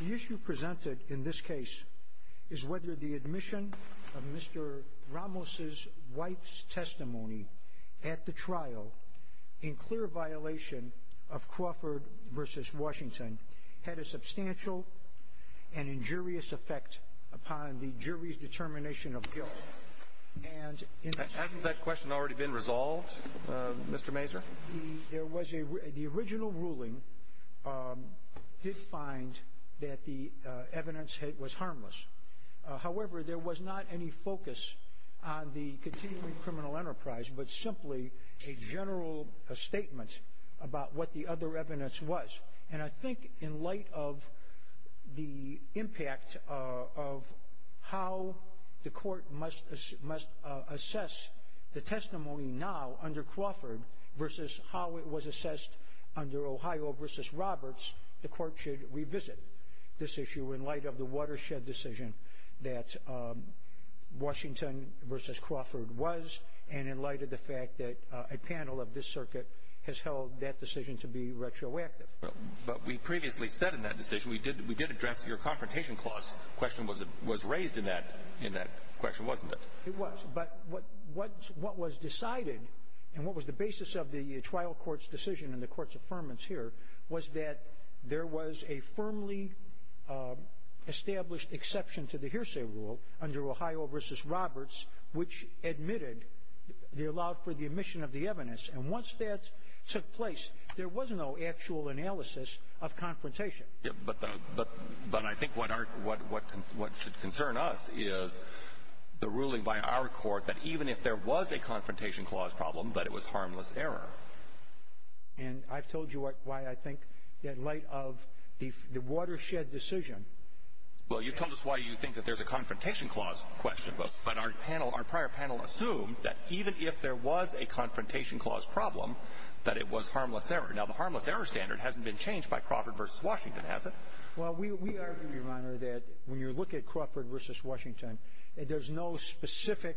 The issue presented in this case is whether the admission of Mr. Ramos' wife's testimony at the trial, in clear violation of Crawford v. Washington, had a substantial and injurious effect upon the jury's determination of guilt. And in this case, the original ruling did find that the evidence was harmless. However, there was not any focus on the continuing criminal enterprise but simply a general statement about what the other evidence was. And I think in light of the impact of how the court must assess the testimony now under Crawford v. how it was assessed under Ohio v. Roberts, the court should revisit this issue in light of the watershed decision that Washington v. Crawford was and in light of the fact that a panel of this circuit has held that decision to be retroactive. But we previously said in that decision we did address your confrontation clause. The question was raised in that question, wasn't it? It was. But what was decided and what was the basis of the trial court's decision and the court's affirmance here was that there was a firmly established exception to the hearsay rule under Ohio v. Roberts which admitted they allowed for the admission of the evidence. And once that took place, there was no actual analysis of confrontation. But I think what should concern us is the ruling by our court that even if there was a confrontation clause problem, that it was harmless error. And I've told you why I think in light of the watershed decision that there was a confrontation clause problem, that it was harmless error. Well, you told us why you think that there's a confrontation clause question. But our prior panel assumed that even if there was a confrontation clause problem, that it was harmless error. Now, the harmless error standard hasn't been changed by Crawford v. Washington, has it? Well, we argue, Your Honor, that when you look at Crawford v. Washington, there's no specific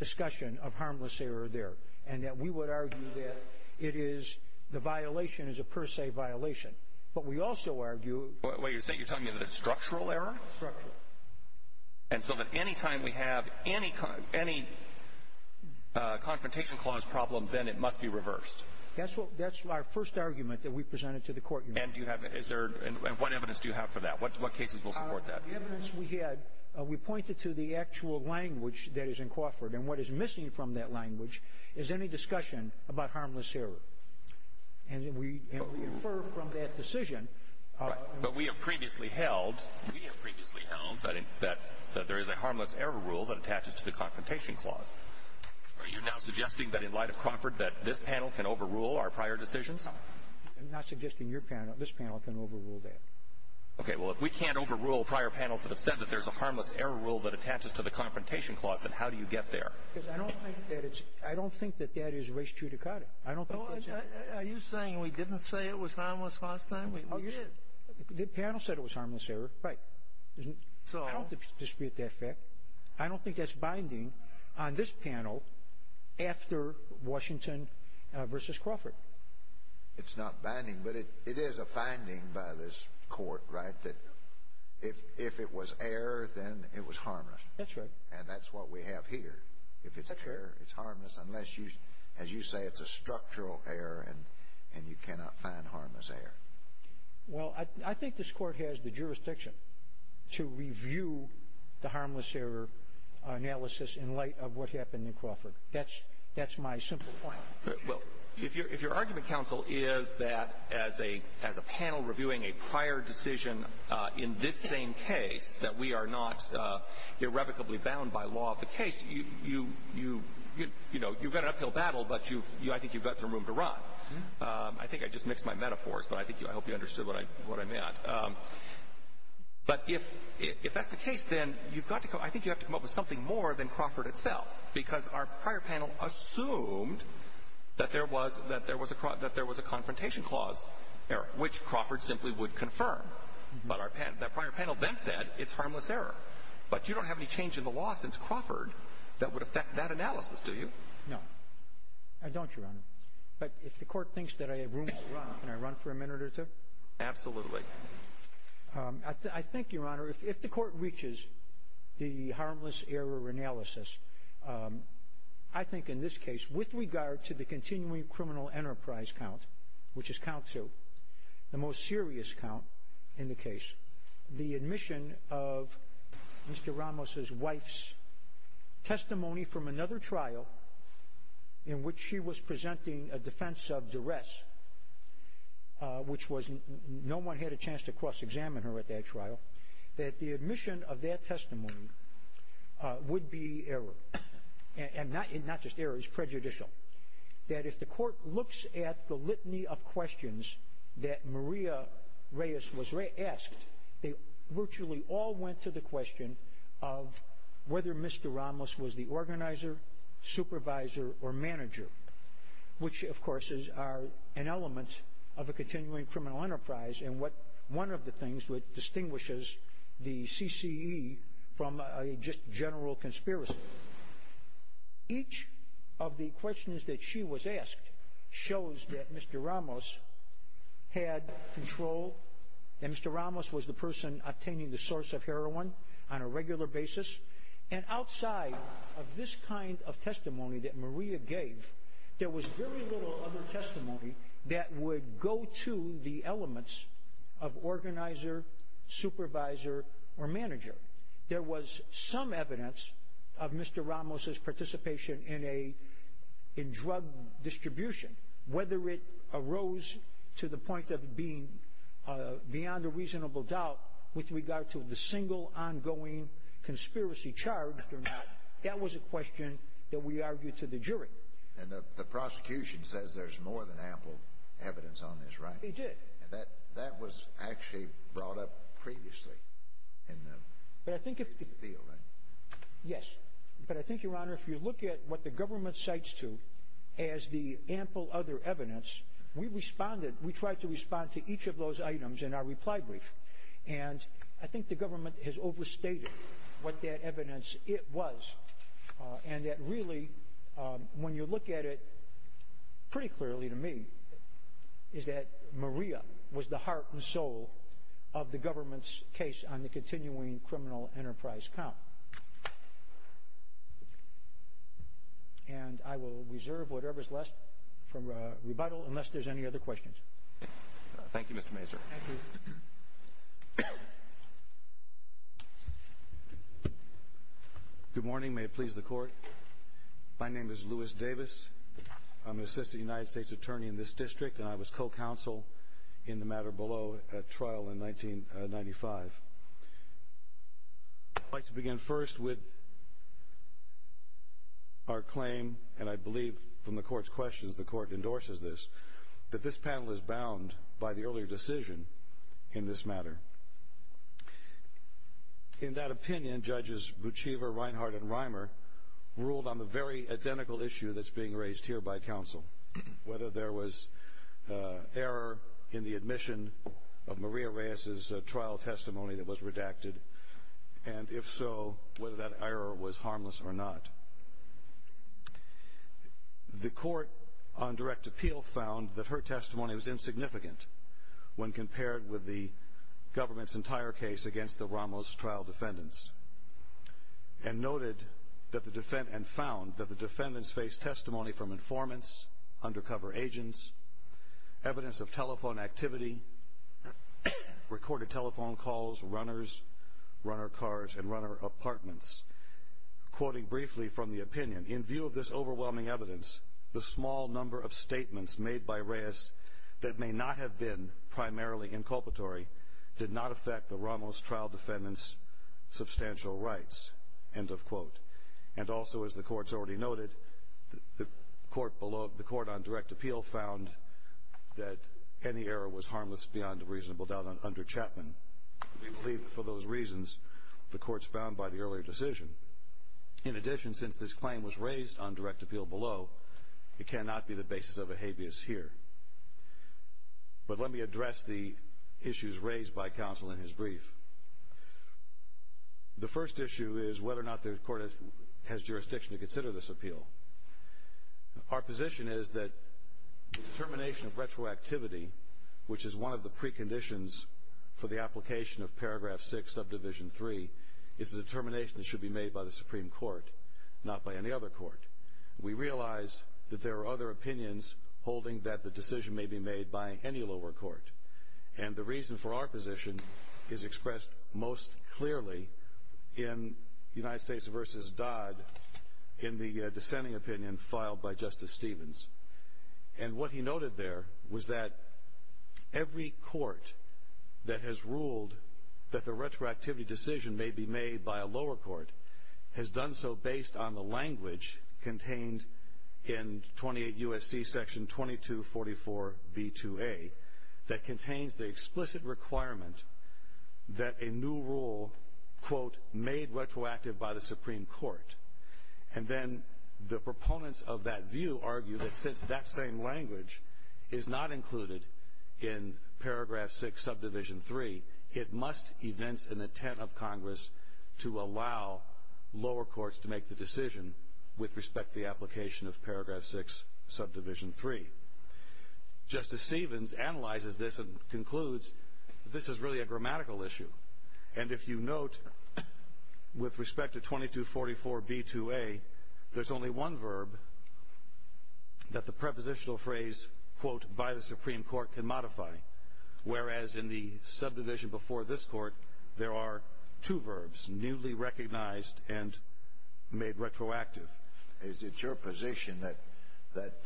discussion of harmless error there and that we would argue that it is the violation is a per se violation. But we also argue Wait, you're telling me that it's structural error? Structural. And so that any time we have any confrontation clause problem, then it must be reversed. That's our first argument that we presented to the court, Your Honor. And what evidence do you have for that? What cases will support that? The evidence we had, we pointed to the actual language that is in Crawford. And what is missing from that language is any discussion about harmless error. And we infer from that decision Right. But we have previously held We have previously held that there is a harmless error rule that attaches to the confrontation clause. Are you now suggesting that in light of Crawford that this panel can overrule our prior decisions? I'm not suggesting your panel. This panel can overrule that. Okay. Well, if we can't overrule prior panels that have said that there's a harmless error rule that attaches to the confrontation clause, then how do you get there? Because I don't think that it's I don't think that that is res judicata. I don't think that's What are you saying? We didn't say it was harmless last time? The panel said it was harmless error. Right. I don't dispute that fact. I don't think that's binding on this panel after Washington versus Crawford. It's not binding, but it is a finding by this court, right, that if it was error, then it was harmless. That's right. And that's what we have here. If it's error, it's harmless unless you, as you say, it's a structural error and you cannot find harmless error. Well, I think this Court has the jurisdiction to review the harmless error analysis in light of what happened in Crawford. That's my simple point. Well, if your argument, counsel, is that as a panel reviewing a prior decision in this same case, that we are not irrevocably bound by law of the case, you've got an uphill battle, but I think you've got some room to run. I think I just mixed my metaphors, but I hope you understood what I meant. But if that's the case, then I think you have to come up with something more than Crawford itself, because our prior panel assumed that there was a confrontation clause error, which Crawford simply would confirm. But our prior panel then said it's harmless error. But you don't have any change in the law since Crawford that would affect that analysis, do you? No, I don't, Your Honor. But if the Court thinks that I have room to run, can I run for a minute or two? Absolutely. I think, Your Honor, if the Court reaches the harmless error analysis, I think in this case, with regard to the continuing criminal enterprise count, which is count 2, the most serious count in the case, the admission of Mr. Ramos's wife's testimony from another trial in which she was presenting a defense of duress, which no one had a chance to cross-examine her at that trial, that the admission of that testimony would be error, and not just error, it's prejudicial. That if the Court looks at the litany of questions that Maria Reyes was asked, they virtually all went to the question of whether Mr. Ramos was the organizer, supervisor, or manager, which, of course, are an element of a continuing criminal enterprise and one of the things which distinguishes the CCE from a just general conspiracy. Each of the questions that she was asked shows that Mr. Ramos had control, that Mr. Ramos was the person obtaining the source of heroin on a regular basis, and outside of this kind of testimony that Maria gave, there was very little other testimony that would go to the elements of organizer, supervisor, or manager. There was some evidence of Mr. Ramos's participation in drug distribution, whether it arose to the point of being beyond a reasonable doubt with regard to the single ongoing conspiracy charged or not, that was a question that we argued to the jury. And the prosecution says there's more than ample evidence on this, right? It did. And that was actually brought up previously in the field, right? Yes. But I think, Your Honor, if you look at what the government cites to as the ample other evidence, we responded, we tried to respond to each of those items in our reply brief. And I think the government has overstated what that evidence was, and that really, when you look at it pretty clearly to me, is that Maria was the heart and soul of the government's case on the continuing criminal enterprise count. And I will reserve whatever's left from rebuttal unless there's any other questions. Thank you, Mr. Mazur. Thank you. Good morning. May it please the Court. My name is Louis Davis. I'm an assistant United States attorney in this district, and I was co-counsel in the matter below at trial in 1995. I'd like to begin first with our claim, and I believe from the Court's questions the Court endorses this, that this panel is bound by the earlier decision in this matter. In that opinion, Judges Bucciva, Reinhart, and Reimer ruled on the very identical issue that's being raised here by counsel, whether there was error in the admission of Maria in the testimony that was redacted, and if so, whether that error was harmless or not. The Court, on direct appeal, found that her testimony was insignificant when compared with the government's entire case against the Ramos trial defendants, and noted and found that the defendants faced testimony from informants, undercover agents, evidence of telephone activity, recorded telephone calls, runners, runner cars, and runner apartments. Quoting briefly from the opinion, in view of this overwhelming evidence, the small number of statements made by Reyes that may not have been primarily inculpatory did not affect the Ramos trial defendants' substantial rights, end of quote. And also, as the Court's already noted, the Court on direct appeal found that any error was harmless beyond a reasonable doubt under Chapman. We believe, for those reasons, the Court's bound by the earlier decision. In addition, since this claim was raised on direct appeal below, it cannot be the basis of a habeas here. But let me address the issues raised by counsel in his brief. The first issue is whether or not the Court has jurisdiction to consider this appeal. Our position is that the determination of retroactivity, which is one of the preconditions for the application of paragraph 6, subdivision 3, is a determination that should be made by the Supreme Court, not by any other court. We realize that there are other opinions holding that the decision may be made by any lower court, and the reason for our position is expressed most clearly in United States v. Dodd in the dissenting opinion filed by Justice Stevens. And what he noted there was that every court that has ruled that the retroactivity decision may be made by a lower court has done so based on the language contained in 28 U.S.C. section 2244B2A that contains the explicit requirement that a new rule, quote, made retroactive by the Supreme Court. And then the proponents of that view argue that since that same language is not included in paragraph 6, subdivision 3, it must evince an intent of Congress to allow lower courts to make the decision with respect to the application of paragraph 6, subdivision 3. Justice Stevens analyzes this and concludes that this is really a grammatical issue. And if you note, with respect to 2244B2A, there's only one verb that the prepositional phrase, quote, by the Supreme Court can modify, whereas in the subdivision before this court, there are two verbs, newly recognized and made retroactive. Is it your position that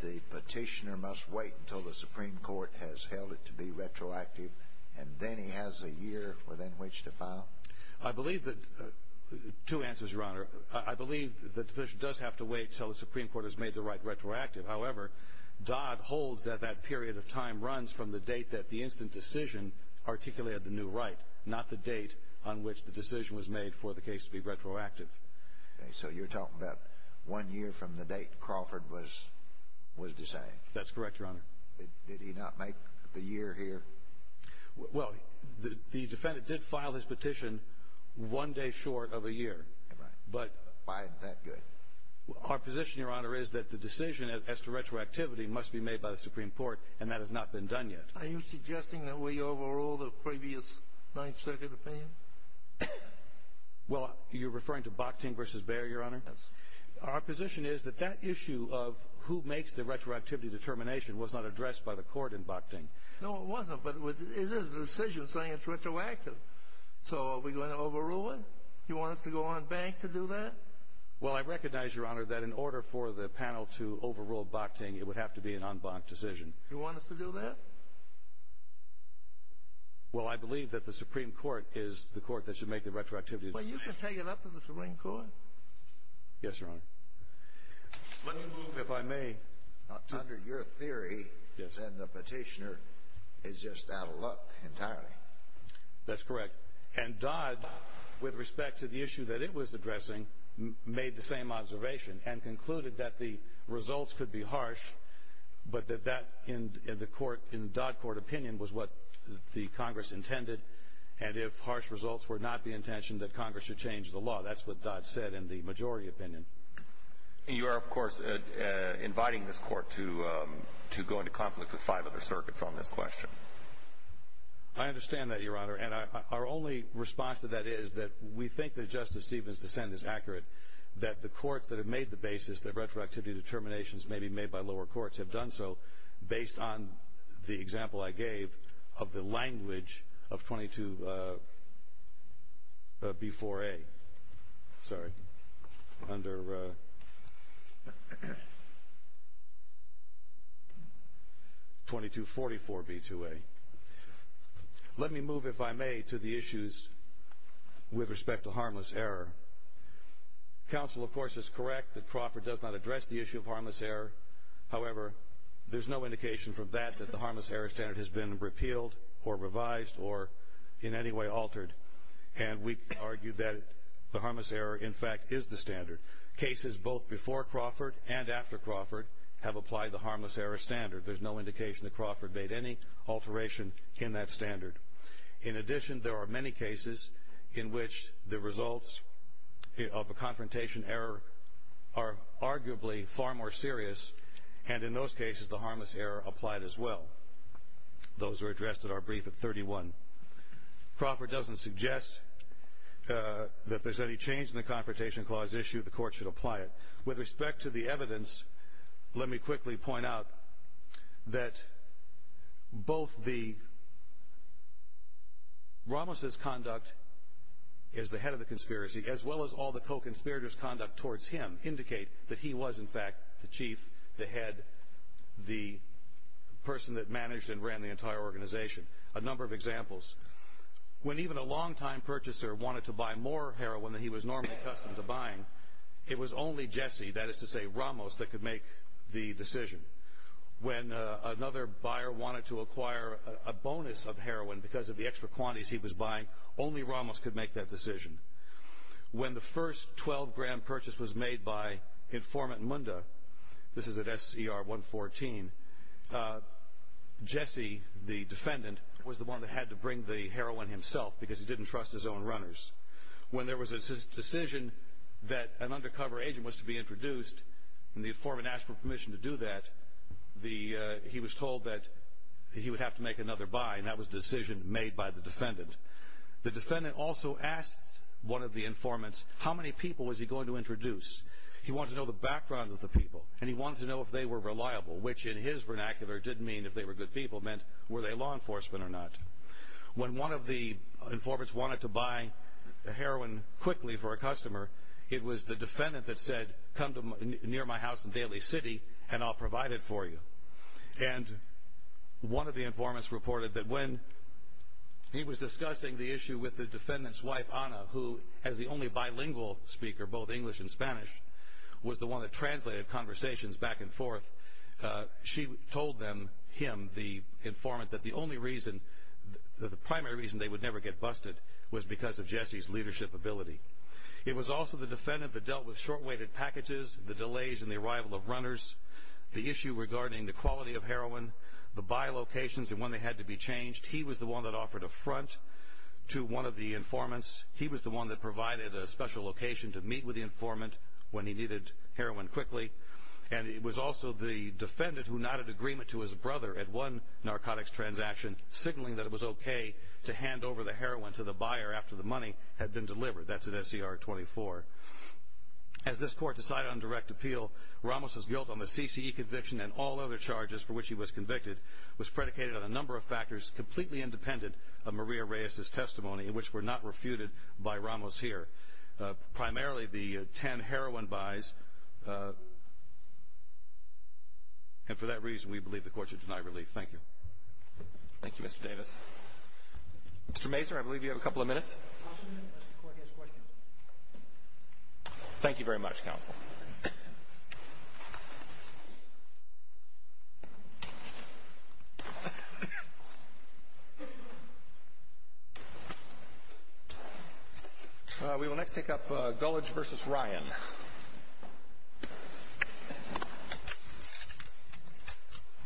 the petitioner must wait until the Supreme Court has held it to be retroactive and then he has a year within which to file? I believe that the petition does have to wait until the Supreme Court has made the right retroactive. However, Dodd holds that that period of time runs from the date that the instant decision articulated the new right, not the date on which the decision was made for the case to be retroactive. So you're talking about one year from the date Crawford was designed? That's correct, Your Honor. Did he not make the year here? Well, the defendant did file his petition one day short of a year. Why is that good? Our position, Your Honor, is that the decision as to retroactivity must be made by the Supreme Court, and that has not been done yet. Are you suggesting that we overrule the previous Ninth Circuit opinion? Well, you're referring to Bokting v. Bair, Your Honor? Yes. Our position is that that issue of who makes the retroactivity determination was not addressed by the court in Bokting. No, it wasn't, but it is a decision saying it's retroactive. So are we going to overrule it? Do you want us to go on bank to do that? Well, I recognize, Your Honor, that in order for the panel to overrule Bokting, it would have to be an en banc decision. Do you want us to do that? Well, I believe that the Supreme Court is the court that should make the retroactivity determination. Well, you can take it up to the Supreme Court. Yes, Your Honor. Let me move, if I may. Under your theory, the petitioner is just out of luck entirely. That's correct. And Dodd, with respect to the issue that it was addressing, made the same observation and concluded that the results could be harsh, but that that, in Dodd Court opinion, was what the Congress intended, and if harsh results were not the intention, that Congress should change the law. That's what Dodd said in the majority opinion. And you are, of course, inviting this court to go into conflict with five other circuits on this question. I understand that, Your Honor, and our only response to that is that we think that Justice made the basis that retroactivity determinations may be made by lower courts have done so based on the example I gave of the language of 22B4A. Sorry. Under 2244B2A. Let me move, if I may, to the issues with respect to harmless error. Counsel, of course, is correct that Crawford does not address the issue of harmless error. However, there's no indication from that that the harmless error standard has been repealed or revised or in any way altered, and we argue that the harmless error, in fact, is the standard. Cases both before Crawford and after Crawford have applied the harmless error standard. There's no indication that Crawford made any alteration in that standard. In addition, there are many cases in which the results of a confrontation error are arguably far more serious, and in those cases, the harmless error applied as well. Those were addressed at our brief at 31. Crawford doesn't suggest that there's any change in the Confrontation Clause issue. The court should apply it. With respect to the evidence, let me quickly point out that both Ramos' conduct as the head of the conspiracy as well as all the co-conspirators' conduct towards him indicate that he was, in fact, the chief, the head, the person that managed and ran the entire organization. A number of examples. When even a longtime purchaser wanted to buy more heroin than he was normally accustomed to buying, it was only Jesse, that is to say, Ramos, that could make the decision. When another buyer wanted to acquire a bonus of heroin because of the extra quantities he was buying, only Ramos could make that decision. When the first 12-gram purchase was made by Informant Munda, this is at SCR 114, Jesse, the defendant, was the one that had to bring the heroin himself because he didn't trust his own runners. When there was a decision that an undercover agent was to be introduced, and the informant asked for permission to do that, he was told that he would have to make another buy, and that was a decision made by the defendant. The defendant also asked one of the informants how many people was he going to introduce. He wanted to know the background of the people, and he wanted to know if they were reliable, which in his vernacular didn't mean if they were good people. It meant were they law enforcement or not. When one of the informants wanted to buy heroin quickly for a customer, it was the defendant that said, come near my house in Daly City, and I'll provide it for you. And one of the informants reported that when he was discussing the issue with the defendant's wife, Anna, who as the only bilingual speaker, both English and Spanish, was the one that translated conversations back and forth, she told him, the informant, that the only reason, the primary reason they would never get busted was because of Jesse's leadership ability. It was also the defendant that dealt with short-weighted packages, the delays in the arrival of runners, the issue regarding the quality of heroin, the buy locations and when they had to be changed. He was the one that offered a front to one of the informants. He was the one that provided a special location to meet with the informant when he needed heroin quickly. And it was also the defendant who nodded agreement to his brother at one narcotics transaction, signaling that it was okay to hand over the heroin to the buyer after the money had been delivered. That's at SCR 24. As this court decided on direct appeal, Ramos' guilt on the CCE conviction and all other charges for which he was convicted was predicated on a number of factors completely independent of Maria Reyes' testimony, which were not refuted by Ramos here. Primarily the 10 heroin buys. And for that reason, we believe the court should deny relief. Thank you. Thank you, Mr. Davis. Mr. Mazur, I believe you have a couple of minutes. Thank you very much, counsel. Thank you. We will next take up Gulledge v. Ryan.